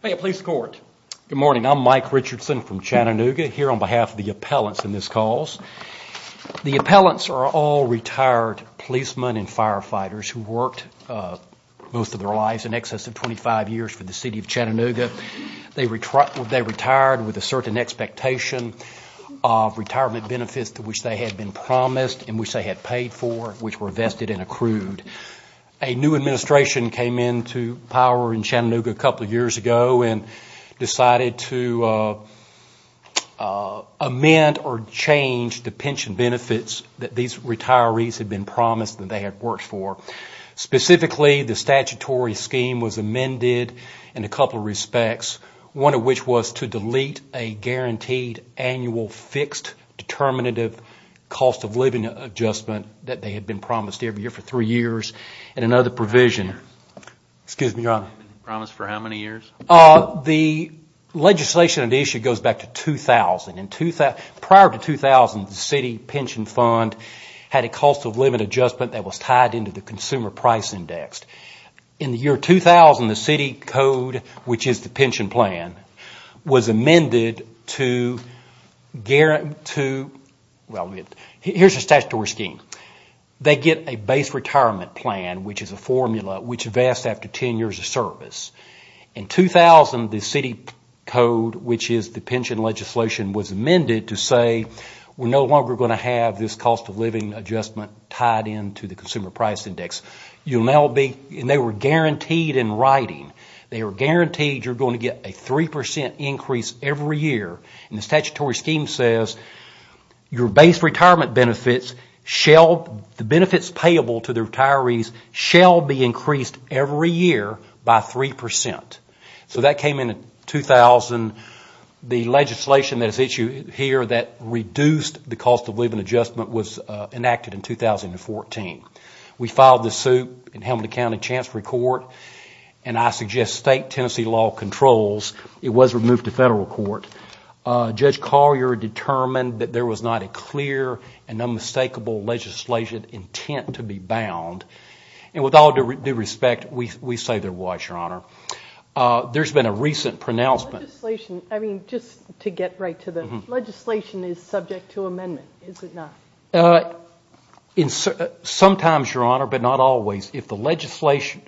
Hey Police Court. Good morning. I'm Mike Richardson from Chattanooga here on behalf of the appellants in this cause. The appellants are all retired policemen and firefighters who worked most of their lives in excess of 25 years for the City of Chattanooga. They retired with a certain expectation of retirement benefits to which they had been promised and which they had paid for which were vested and accrued. A new administration came into power in Chattanooga a couple of years ago and decided to amend or change the pension benefits that these retirees had been promised that they had worked for. Specifically the statutory scheme was amended in a couple of respects. One of which was to delete a guaranteed annual fixed determinative cost of living adjustment that they had been promised every year for three years and another provision. The legislation on the issue goes back to 2000. Prior to 2000, the city pension fund had a cost of living adjustment that was tied into the consumer price index. In the year 2000, the city code, which is the pension plan, was amended to, here's the statutory scheme, they get a base retirement plan, which is a formula which vests after ten years of service. In 2000, the city code, which is the pension legislation, was amended to say we're no longer going to have this cost of living adjustment tied into the consumer price index. They were guaranteed in writing, they were guaranteed you're going to get a 3% increase every year. The statutory scheme says your base retirement benefits, the benefits payable to the retirees, shall be increased every year by 3%. That came in 2000. The legislation that is issued here that reduced the cost of living adjustment was enacted in 2014. We filed the suit in Helmand County Chancellor's Court, and I suggest state Tennessee law controls. It was removed to federal court. Judge Collier determined that there was not a clear and unmistakable legislation intent to be bound. And with all due respect, we say there was, Your Honor. There's been a recent pronouncement... Legislation, I mean, just to get right to the... Legislation is subject to amendment, is it not? Sometimes, Your Honor, but not always. If the legislation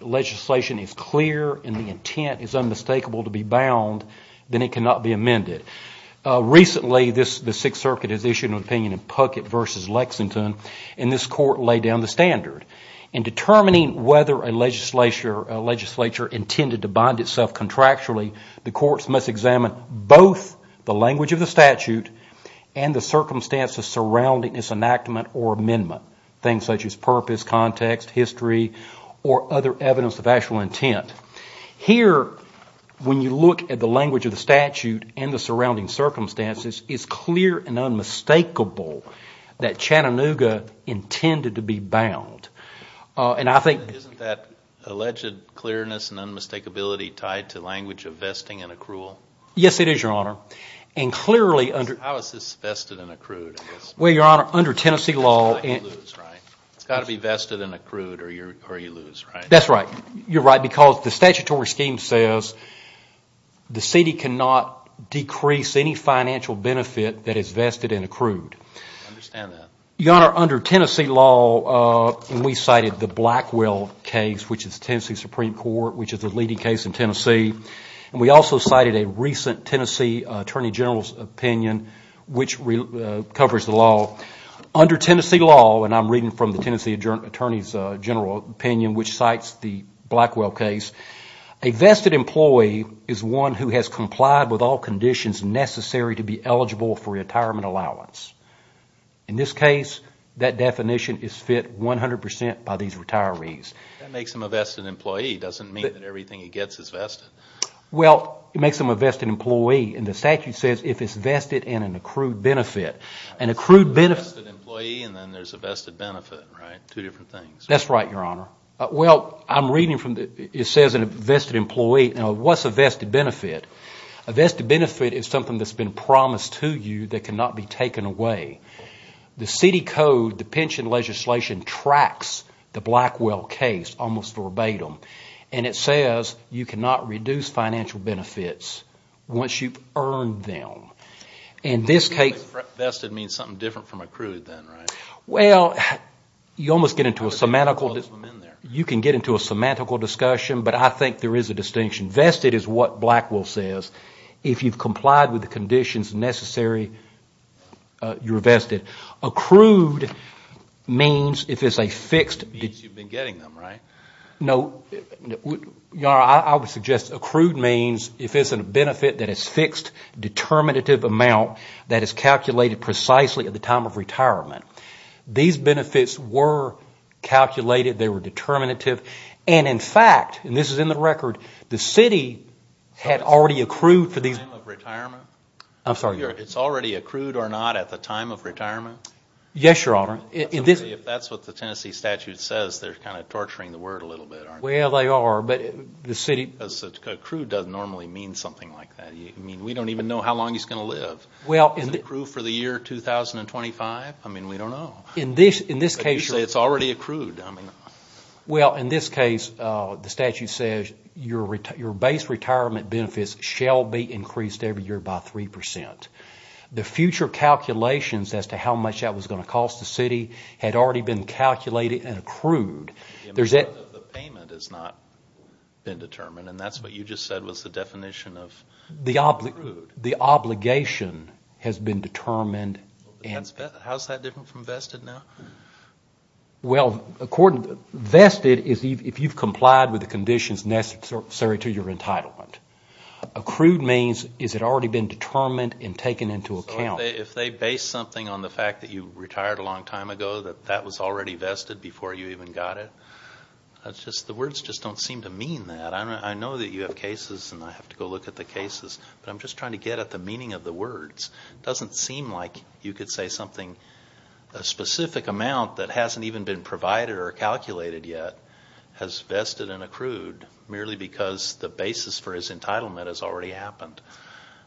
is clear and the intent is unmistakable to be bound, then it cannot be amended. Recently, the Sixth Circuit has issued an opinion in Puckett v. Lexington, and this court laid down the standard. In determining whether a legislature intended to bind itself contractually, the courts must examine both the language of the statute and the circumstances surrounding its enactment or amendment, things such as purpose, context, history, or other evidence of actual intent. Here, when you look at the language of the statute and the surrounding circumstances, it's clear and unmistakable that Chattanooga intended to be bound. And I think... Isn't that alleged clearness and unmistakability tied to language of vesting and accrual? Yes, it is, Your Honor. And clearly under... How is this vested and accrued, I guess? Well, Your Honor, under Tennessee law... You lose, right? It's got to be vested and accrued or you lose, right? That's right. You're right, because the statutory scheme says the city cannot decrease any financial benefit that is vested and accrued. I understand that. Your Honor, under Tennessee law, we cited the Blackwell case, which is Tennessee Supreme Court, which is the leading case in Tennessee. And we also cited a recent Tennessee Attorney General's opinion, which covers the law. Under Tennessee law, and I'm reading from the Tennessee Attorney General's opinion, which cites the Blackwell case, a vested employee is one who has complied with all conditions necessary to be eligible for retirement allowance. In this case, that definition is fit 100 percent by these retirees. That makes him a vested employee. It doesn't mean that everything he gets is vested. Well, it makes him a vested employee. And the statute says if it's vested and an accrued benefit. An accrued benefit... A vested employee and then there's a vested benefit, right? Two different things. That's right, Your Honor. Well, I'm reading from the... It says a vested employee. Now, what's a vested benefit? A vested benefit is something that's been promised to you that cannot be taken away. The city code, the pension legislation, tracks the Blackwell case almost verbatim. And it says you cannot reduce financial benefits once you've earned them. And this case... Vested means something different from accrued then, right? Well, you almost get into a semantical... You can get into a semantical discussion, but I think there is a distinction. Vested is what Blackwell says. If you've complied with the conditions necessary, you're vested. Accrued means if it's a fixed... Means you've been getting them, right? No. Your Honor, I would suggest accrued means if it's a benefit that is fixed, determinative amount that is calculated precisely at the time of retirement. These benefits were calculated. They were determinative. And in fact, and this is in the record, the city had already accrued for these... At the time of retirement? I'm sorry. It's already accrued or not at the time of retirement? Yes, Your Honor. If that's what the Tennessee statute says, they're kind of torturing the word a little bit, aren't they? Well, they are, but the city... Because accrued doesn't normally mean something like that. I mean, we don't even know how long he's going to live. Is it accrued for the year 2025? I mean, we don't know. In this case... It's already accrued. Well, in this case, the statute says your base retirement benefits shall be increased every year by 3%. The future calculations as to how much that was going to cost the city had already been calculated and accrued. The amount of the payment has not been determined, and that's what you just said was the definition of accrued. The obligation has been determined and... How's that different from vested now? Well, vested is if you've complied with the conditions necessary to your entitlement. Accrued means, has it already been determined and taken into account? If they base something on the fact that you retired a long time ago, that that was already vested before you even got it, the words just don't seem to mean that. I know that you have cases and I have to go look at the cases, but I'm just trying to get at the meaning of the words. It doesn't seem like you could say something, a specific amount that hasn't even been provided or calculated yet has vested and accrued merely because the basis for his entitlement has already happened.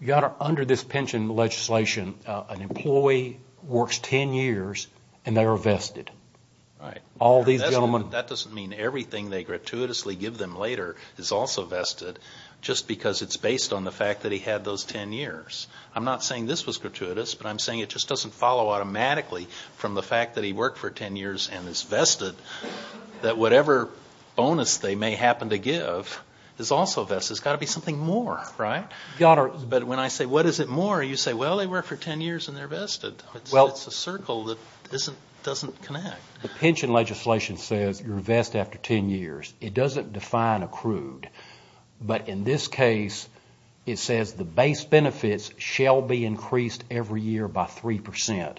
Your Honor, under this pension legislation, an employee works 10 years and they are vested. All these gentlemen... That doesn't mean everything they gratuitously give them later is also vested just because it's based on the fact that he had those 10 years. I'm not saying this was gratuitous, but I'm saying it just doesn't follow automatically from the fact that he worked for 10 years and is vested that whatever bonus they may happen to give is also vested. It's got to be something more, right? But when I say, what is it more? You say, well, they work for 10 years and they're vested. It's a circle that doesn't connect. The pension legislation says you're vested after 10 years. It doesn't define accrued. But in this case, it says the base benefits shall be increased every year by 3%.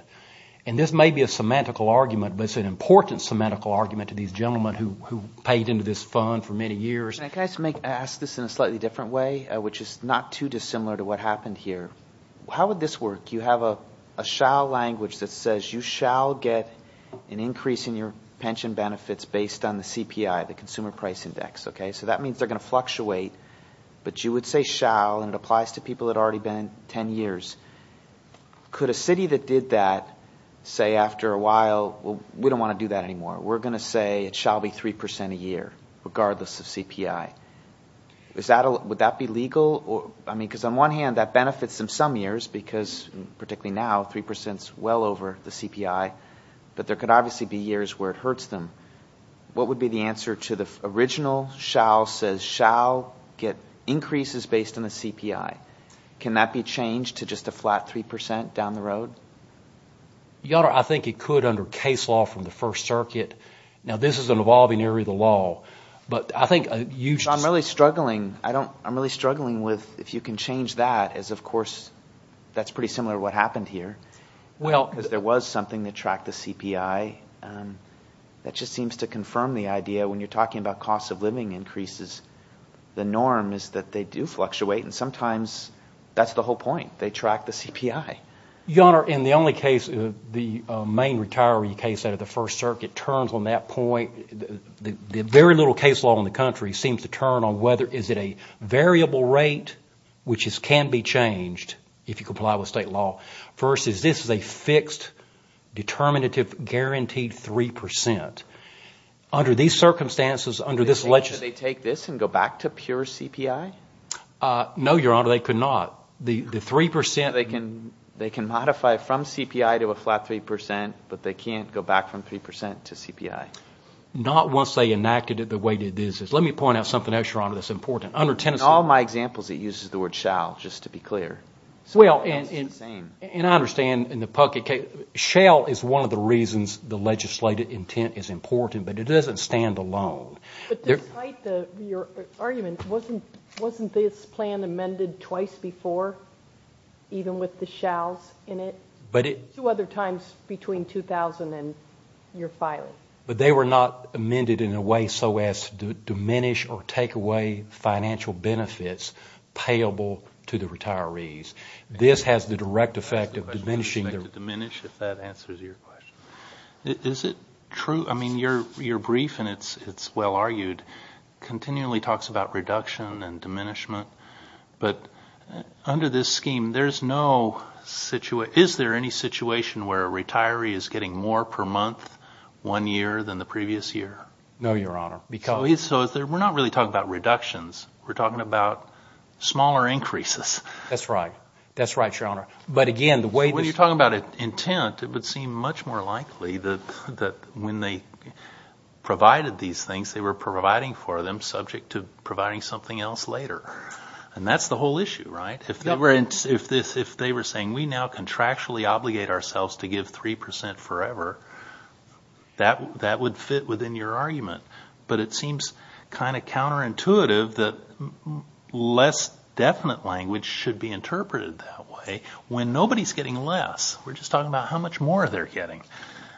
And this may be a semantical argument, but it's an important semantical argument to these gentlemen who paid into this fund for many years. Can I ask this in a slightly different way, which is not too dissimilar to what happened here? How would this work? You have a shall language that says you shall get an increase in your pension benefits based on the CPI, the Consumer Price Index, okay? So that means they're going to fluctuate, but you would say shall, and it applies to people that already been 10 years. Could a city that did that say after a while, well, we don't want to do that anymore. We're going to say it shall be 3% a year regardless of CPI. Would that be legal? I mean, because on one hand, that benefits them some years because particularly now 3% is well over the CPI, but there could obviously be years where it hurts them. What would be the answer to the original shall says shall get increases based on the CPI? Can that be changed to just a flat 3% down the road? Your Honor, I think it could under case law from the First Circuit. Now this is an evolving area of the law, but I think a huge- I'm really struggling. I don't, I'm really struggling with if you can change that as of course that's pretty similar to what happened here because there was something that tracked the CPI. That just seems to confirm the idea when you're talking about cost of living increases. The norm is that they do fluctuate and sometimes that's the whole point. They track the CPI. Your Honor, in the only case, the main retiree case out of the First Circuit turns on that point. The very little case law in the country seems to turn on whether is it a variable rate which can be changed if you comply with state law versus this is a fixed, determinative guaranteed 3%. Under these circumstances, under this legislation- They take this and go back to pure CPI? No, Your Honor, they could not. The 3%- They can modify from CPI to a flat 3%, but they can't go back from 3% to CPI. Not once they enacted it the way it is. Let me point out something else, Your Honor, that's important. Under Tennessee- In all my examples, it uses the word shall, just to be clear. Well, and I understand in the public case, shall is one of the reasons the legislative intent is important, but it doesn't stand alone. But despite your argument, wasn't this plan amended twice before, even with the shalls in it? Two other times between 2000 and your filing. But they were not amended in a way so as to diminish or take away financial benefits payable to the retirees. This has the direct effect of diminishing- It has to diminish if that answers your question. Is it true? I mean, you're brief and it's well-argued, continually talks about reduction and diminishment, but under this scheme, is there any situation where a retiree is getting more per month one year than the previous year? No, Your Honor, because- That's right. That's right, Your Honor. But again, the way- When you're talking about intent, it would seem much more likely that when they provided these things, they were providing for them subject to providing something else later. And that's the whole issue, right? If they were saying, we now contractually obligate ourselves to give 3% forever, that would fit within your argument. But it seems kind of counterintuitive that less definite language should be interpreted that way when nobody's getting less. We're just talking about how much more they're getting.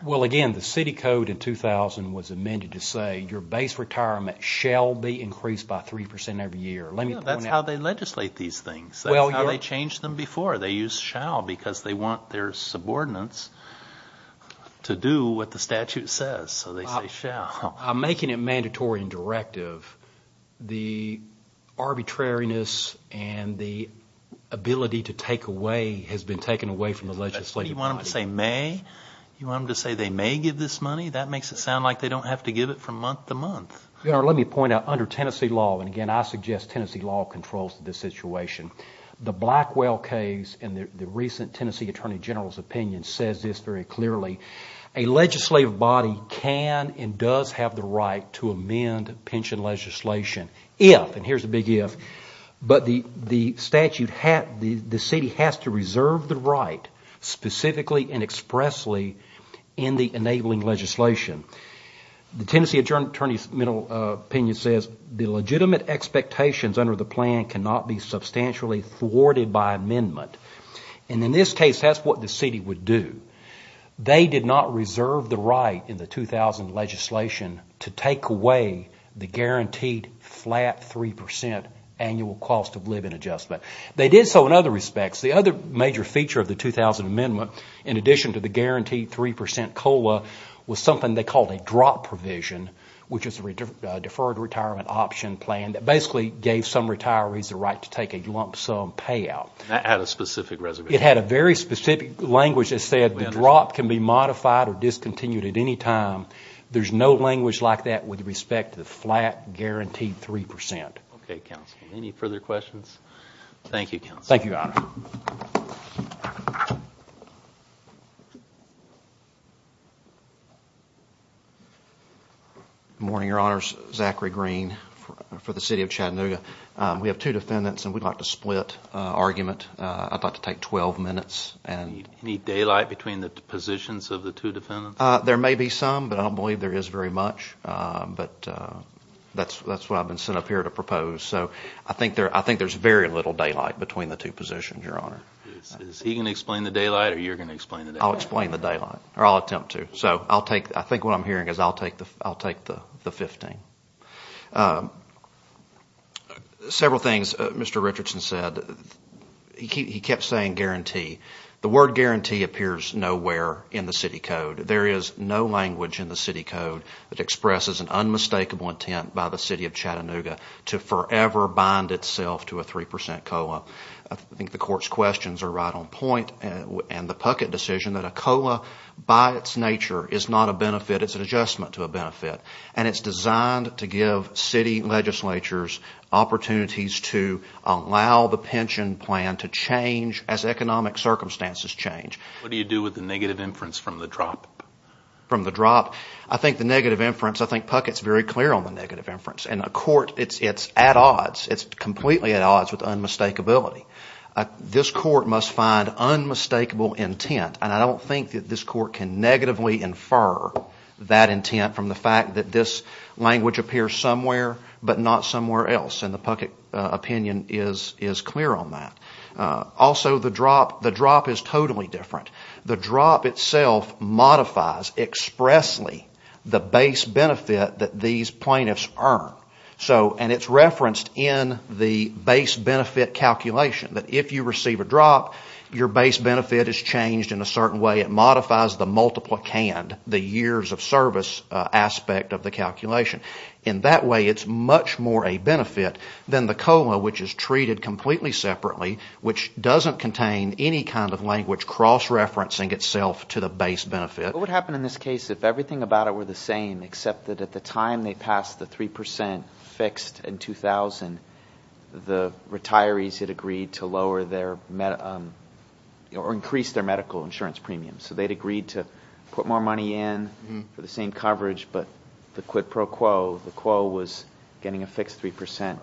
Well, again, the city code in 2000 was amended to say, your base retirement shall be increased by 3% every year. Let me point out- That's how they legislate these things. That's how they changed them before. They use shall because they want their subordinates to do what the statute says. So they say shall. I'm making it mandatory and directive. The arbitrariness and the ability to take away has been taken away from the legislative body. You want them to say may? You want them to say they may give this money? That makes it sound like they don't have to give it from month to month. Your Honor, let me point out, under Tennessee law, and again, I suggest Tennessee law controls this situation, the Blackwell case in the recent Tennessee Attorney General's opinion says this very clearly, a legislative body can and does have the right to amend pension legislation if, and here's a big if, but the statute, the city has to reserve the right specifically and expressly in the enabling legislation. The Tennessee Attorney General's opinion says the legitimate expectations under the plan cannot be substantially thwarted by amendment. In this case, that's what the city would do They did not reserve the right in the 2000 legislation to take away the guaranteed flat 3% annual cost of living adjustment. They did so in other respects. The other major feature of the 2000 amendment, in addition to the guaranteed 3% COLA, was something they called a drop provision, which is a deferred retirement option plan that basically gave some retirees the right to take a lump sum payout. That had a specific reservation. It had a very specific language that said the drop can be modified or discontinued at any time. There's no language like that with respect to the flat guaranteed 3%. Any further questions? Thank you, Counselor. Thank you, Your Honor. Good morning, Your Honors. Zachary Green for the City of Chattanooga. We have two defendants and we'd like to split argument. I'd like to take 12 minutes. Any daylight between the positions of the two defendants? There may be some, but I don't believe there is very much. That's why I've been sent up here to propose. I think there's very little daylight between the two positions, Your Honor. Is he going to explain the daylight or are you going to explain the daylight? I'll explain the daylight, or I'll attempt to. I think what I'm hearing is I'll take the 15. Several things Mr. Richardson said. He kept saying guarantee. The word guarantee appears nowhere in the City Code. There is no language in the City Code that expresses an unmistakable intent by the City of Chattanooga to forever bind itself to a 3% COLA. I think the Court's questions are right on point and the Puckett decision that a COLA by its nature is not a benefit. It's an adjustment to a benefit and it's designed to give city legislatures opportunities to allow the pension plan to change as economic circumstances change. What do you do with the negative inference from the drop? From the drop? I think the negative inference, I think Puckett's very clear on the negative inference. In a court, it's at odds. It's completely at odds with unmistakability. This court can negatively infer that intent from the fact that this language appears somewhere but not somewhere else. The Puckett opinion is clear on that. Also the drop is totally different. The drop itself modifies expressly the base benefit that these plaintiffs earn. It's referenced in the base benefit calculation that if you modify the multiple canned, the years of service aspect of the calculation. In that way, it's much more a benefit than the COLA which is treated completely separately which doesn't contain any kind of language cross-referencing itself to the base benefit. What would happen in this case if everything about it were the same except that at the time they passed the 3% fixed in 2000, the retirees had agreed to increase their medical insurance premium. They'd agreed to put more money in for the same coverage but the quid pro quo, the quo was getting a fixed 3%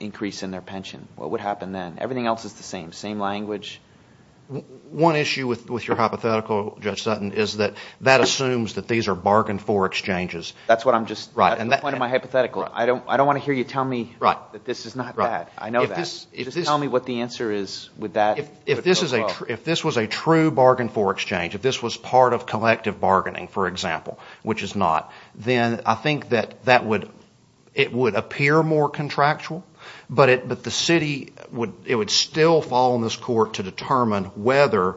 increase in their pension. What would happen then? Everything else is the same. Same language. One issue with your hypothetical, Judge Sutton, is that that assumes that these are bargain for exchanges. That's the point of my hypothetical. I don't want to hear you tell me that this is not that. I know that. Just tell me what the answer is with that quid pro quo. If this was a true bargain for exchange, if this was part of collective bargaining, for example, which it's not, then I think that it would appear more contractual but the city, it would still fall on this court to determine whether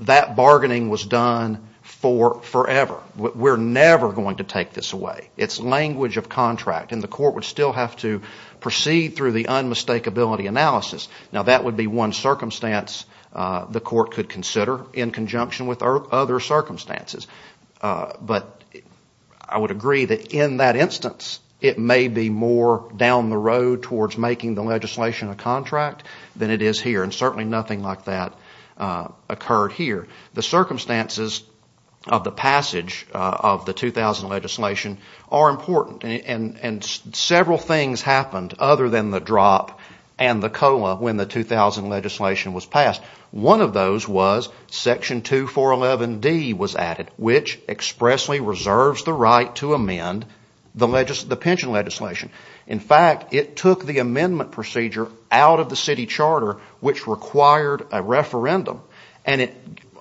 that bargaining was done forever. We're never going to take this away. It's language of contract and the court would still have to proceed through the unmistakability analysis. That would be one circumstance the court could consider in conjunction with other circumstances. I would agree that in that instance, it may be more down the road towards making the legislation a contract than it is here. Certainly nothing like that occurred here. The circumstances of the passage of the 2000 legislation are important. Several things happened other than the drop and the COLA when the 2000 legislation was passed. One of those was Section 2411 D was added, which expressly reserves the right to amend the pension legislation. In fact, it took the amendment procedure out of the city charter, which required a referendum, and it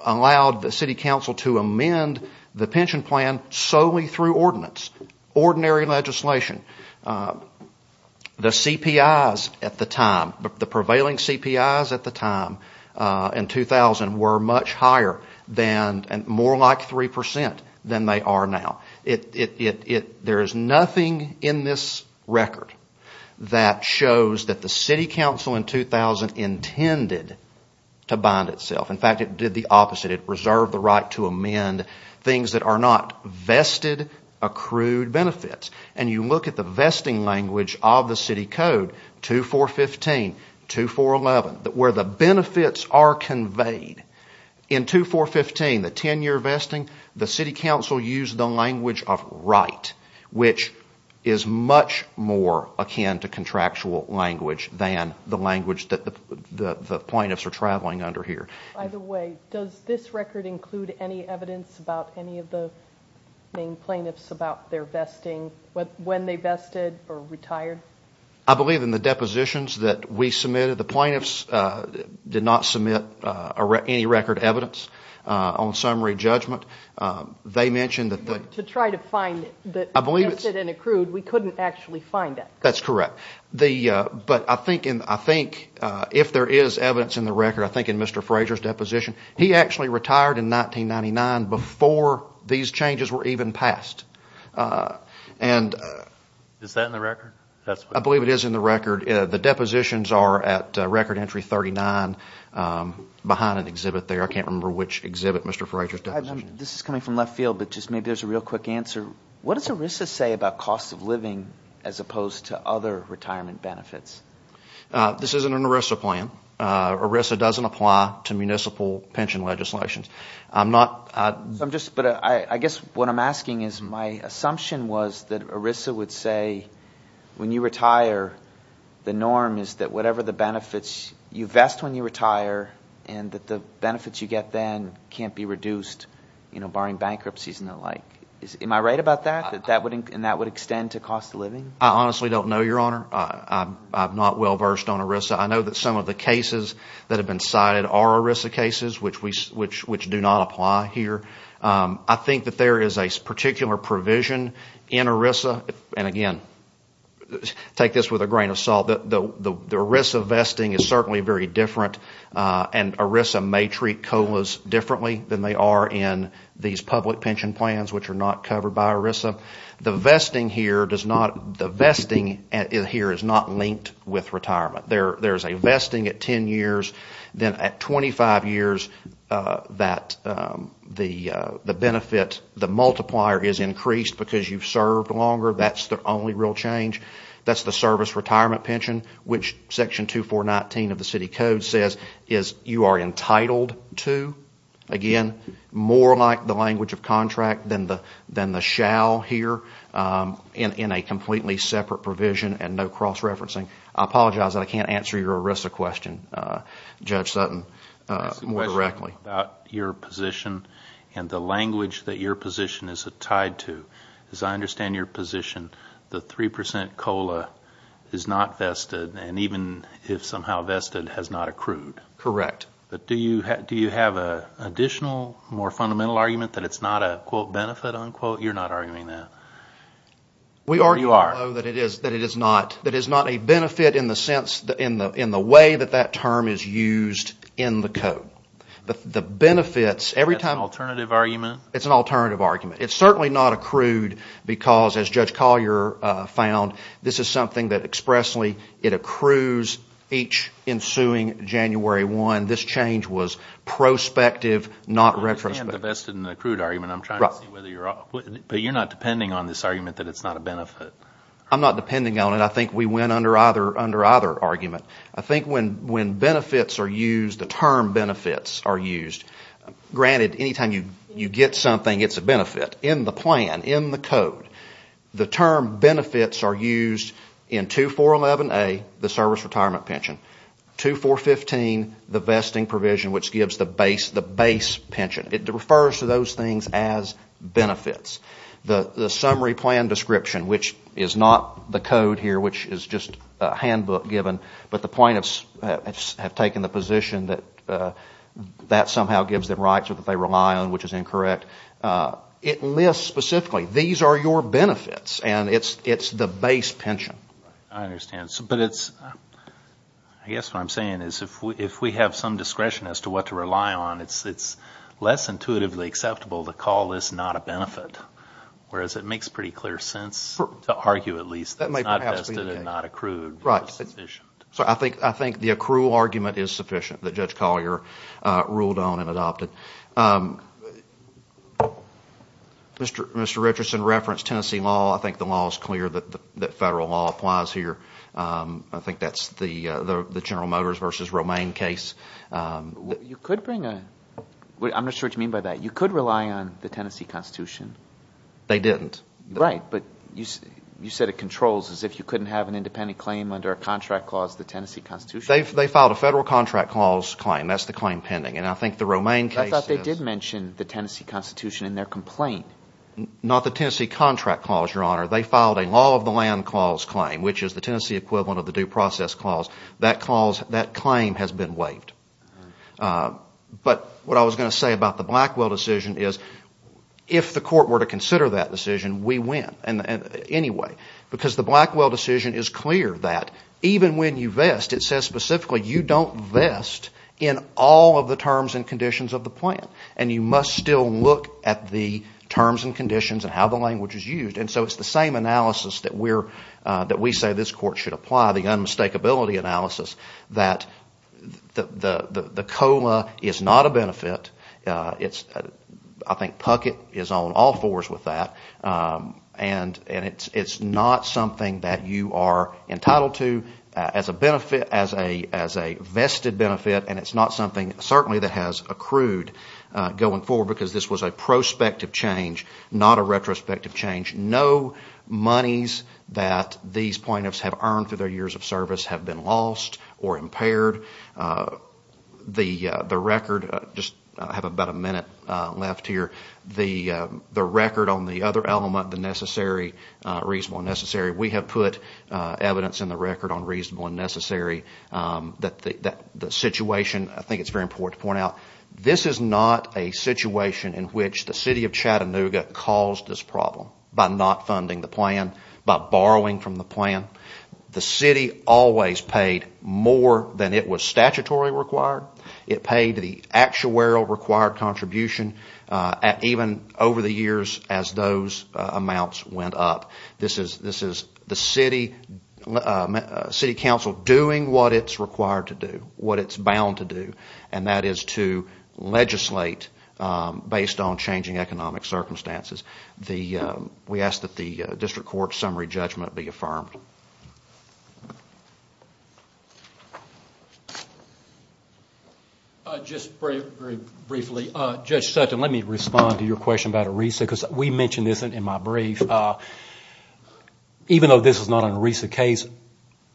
allowed the city council to amend the pension plan solely through ordinance, ordinary legislation. The CPIs at the time, the prevailing CPIs at the time in 2000 were much higher than and more like 3% than they are now. There is nothing in this record that shows that the city council in 2000 intended to bind itself. In fact, it did the opposite. It reserved the right to amend things that are not vested accrued benefits. You look at the vesting language of the city code, 2415, 2411, where the benefits are conveyed. In 2415, the 10 year vesting, the city council used the language of right, which is much more akin to contractual language than the language that the plaintiffs are traveling under here. By the way, does this record include any evidence about any of the main plaintiffs about their vesting, when they vested or retired? I believe in the depositions that we submitted, the plaintiffs did not submit any record evidence on summary judgment. They mentioned that... To try to find the vested and accrued, we couldn't actually find that. That's correct. But I think if there is evidence in the record, I think in Mr. Frazier's deposition, he actually retired in 1999 before these changes were even passed. Is that in the record? I believe it is in the record. The depositions are at record entry 39, behind an exhibit there. I can't remember which exhibit, Mr. Frazier's deposition. This is coming from left field, but just maybe there's a real quick answer. What does ERISA say about cost of living, as opposed to other retirement benefits? This isn't an ERISA plan. ERISA doesn't apply to municipal pension legislations. What I'm asking is, my assumption was that ERISA would say, when you retire, the norm is that whatever the benefits you vest when you retire, and that the benefits you get then can't be reduced, barring bankruptcies and the like. Am I right about that? And that would extend to cost of living? I honestly don't know, Your Honor. I'm not well versed on ERISA. I know that some of the cases that have been cited are ERISA cases, which do not apply here. I think that there is a particular provision in ERISA, and again, take this with a grain of salt, the ERISA vesting is certainly very different, and ERISA may treat COLAs differently than they are in these public pension plans, which are not covered by ERISA. The vesting here is not linked with retirement. There is a vesting at 10 years, then at 25 years, the multiplier is increased because you've served longer. That's the only real change. That's the service retirement pension, which Section 2419 of the City Code says you are entitled to. Again, more like the language of contract than the shall here, in a completely separate provision and no cross-referencing. I apologize that I can't answer your ERISA question, Judge Sutton, more directly. I have a question about your position and the language that your position is tied to. As I understand your position, the 3% COLA is not vested, and even if somehow vested, has not accrued. Correct. Do you have an additional, more fundamental argument that it's not a quote, benefit, unquote? You're not arguing that. We argue, though, that it is not a benefit in the way that that term is used in the Code. The benefits, every time... It's an alternative argument? It's an alternative argument. It's certainly not accrued because, as Judge Collier found, this is something that expressly, it accrues each ensuing January 1. This change was prospective, not retrospective. I understand the vested and accrued argument. I'm trying to see whether you're... But you're not depending on this argument that it's not a benefit? I'm not depending on it. I think we went under either argument. I think when benefits are used, the term benefits are used, granted, any time you get something, it's a benefit, in the plan, in the Code. The term benefits are used in 2411A, the service retirement pension. 2415, the vesting provision, which gives the base, the base pension. It refers to those things as benefits. The summary plan description, which is not the Code here, which is just a handbook given, but the plaintiffs have taken the position that that somehow gives them rights or that they rely on, which is incorrect. It lists specifically, these are your benefits, and it's the base pension. I understand. I guess what I'm saying is if we have some discretion as to what to rely on, it's less intuitively acceptable to call this not a benefit, whereas it makes pretty clear sense to argue at least that it's not vested and not accrued, but it's sufficient. I think the accrual argument is sufficient that Judge Collier ruled on and adopted. Mr. Richardson referenced Tennessee law. I think the law is clear that federal law applies here. I think that's the General Motors versus Romaine case. You could bring a... I'm not sure what you mean by that. You could rely on the Tennessee Constitution. They didn't. Right, but you said it controls as if you couldn't have an independent claim under a contract clause, the Tennessee Constitution. They filed a federal contract clause claim. That's the claim pending, and I think the Romaine case is... I thought they did mention the Tennessee Constitution in their complaint. Not the Tennessee contract clause, Your Honor. They filed a law of the land clause claim, which is the Tennessee equivalent of the due process clause. That claim has been waived, but what I was going to say about the Blackwell decision is if the court were to consider that decision, we win anyway, because the Blackwell decision is clear that even when you vest, it says specifically you don't vest in all of the terms and conditions of the plan, and you must still look at the terms and conditions and how the language is used. So it's the same analysis that we say this court should apply, the unmistakability analysis, that the COLA is not a benefit. I think Puckett is on all fours with that, and it's not something that you are entitled to as a vested benefit, and it's not something certainly that has accrued going forward, because this was a prospective change, not a retrospective change. No monies that these plaintiffs have earned through their years of service have been lost or impaired. The record, I just have about a minute left here, the record on the other element, the necessary, reasonable and necessary, we have put evidence in the record on reasonable and necessary that the situation, I think it's very important to point out, this is not a situation in which the City of Chattanooga caused this problem by not funding the plan, by borrowing from the plan. The City always paid more than it was statutorily required. It paid the actuarial required contribution, even over the years as those amounts went up. This is the City Council doing what it's required to do, what it's bound to do, and translate based on changing economic circumstances. We ask that the District Court's summary judgment be affirmed. Just very briefly, Judge Sutton, let me respond to your question about ERISA, because we mentioned this in my brief. Even though this is not an ERISA case,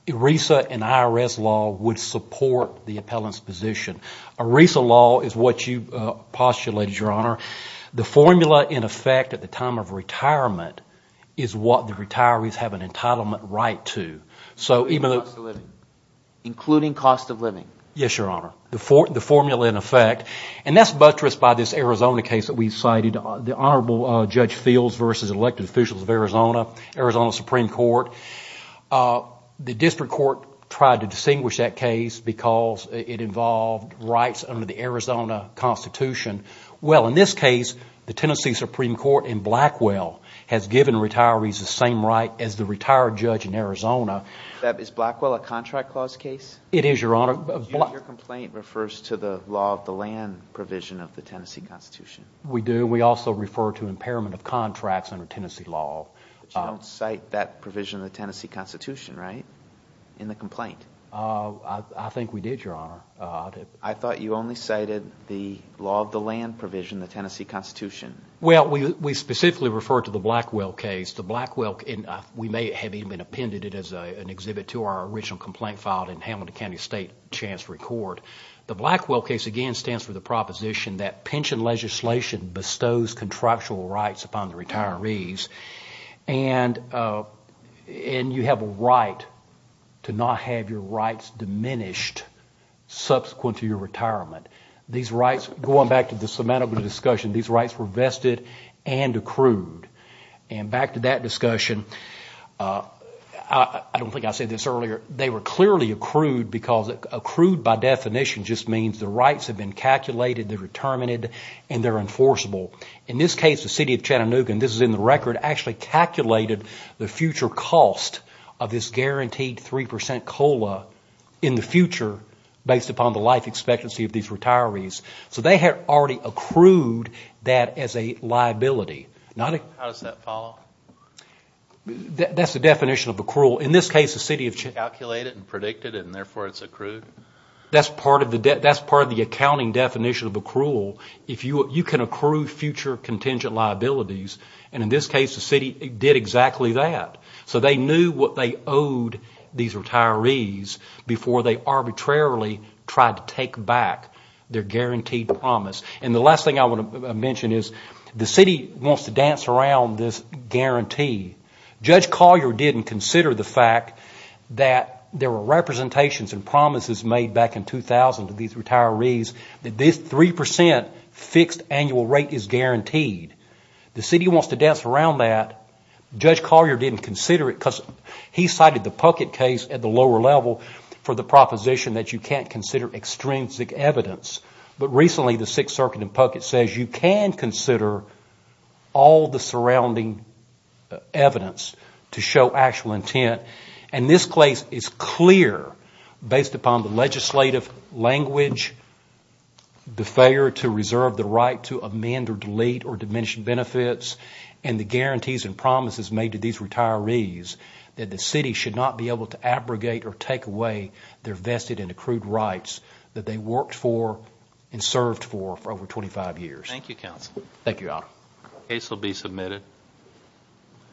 ERISA and IRS law would support the appellant's position. ERISA law is what you postulated, Your Honor. The formula in effect at the time of retirement is what the retirees have an entitlement right to. Including cost of living. Yes, Your Honor. The formula in effect, and that's buttressed by this Arizona case that we cited, the Honorable Judge Fields v. Elected Officials of Arizona, Arizona Supreme Court. The District Court tried to distinguish that case because it involved rights under the Arizona Constitution. Well, in this case, the Tennessee Supreme Court in Blackwell has given retirees the same right as the retired judge in Arizona. Is Blackwell a contract clause case? It is, Your Honor. Your complaint refers to the law of the land provision of the Tennessee Constitution. We do. We also refer to impairment of contracts under Tennessee law. But you don't cite that provision of the Tennessee Constitution, right, in the complaint? I think we did, Your Honor. I thought you only cited the law of the land provision of the Tennessee Constitution. Well, we specifically refer to the Blackwell case. We may have even appended it as an exhibit to our original complaint filed in Hamilton County State Chance to Record. The Blackwell case, again, stands for the proposition that pension legislation bestows contractual rights upon the retirees. And you have a right to not have your rights diminished subsequent to your retirement. These rights, going back to the semantical discussion, these rights were vested and accrued. And back to that discussion, I don't think I said this earlier, they were clearly accrued because accrued, by definition, just means the rights have been calculated, they're determined, and they're enforceable. In this case, the city of Chattanooga, and this is in the record, actually calculated the future cost of this guaranteed 3% COLA in the future, based upon the life expectancy of these retirees. So they had already accrued that as a liability. How does that follow? That's the definition of accrual. In this case, the city of Chattanooga... Calculated and predicted, and therefore it's accrued? That's part of the accounting definition of accrual. You can accrue future contingent liabilities, and in this case, the city did exactly that. So they knew what they owed these retirees before they arbitrarily tried to take back their guaranteed promise. And the last thing I want to mention is the city wants to dance around this guarantee. Judge Collier didn't consider the fact that there were representations and promises made back in 2000 to these retirees that this 3% fixed annual rate is guaranteed. The city wants to dance around that. Judge Collier didn't consider it because he cited the Puckett case at the lower level for the proposition that you can't consider extrinsic evidence. But recently, the Sixth Circuit in Puckett says you can consider all the surrounding evidence to show actual intent. And this case is clear based upon the legislative language, the failure to reserve the right to amend or delete or diminish benefits, and the guarantees and promises made to these retirees that the city should not be able to abrogate or take away their vested and accrued rights that they worked for and served for over 25 years.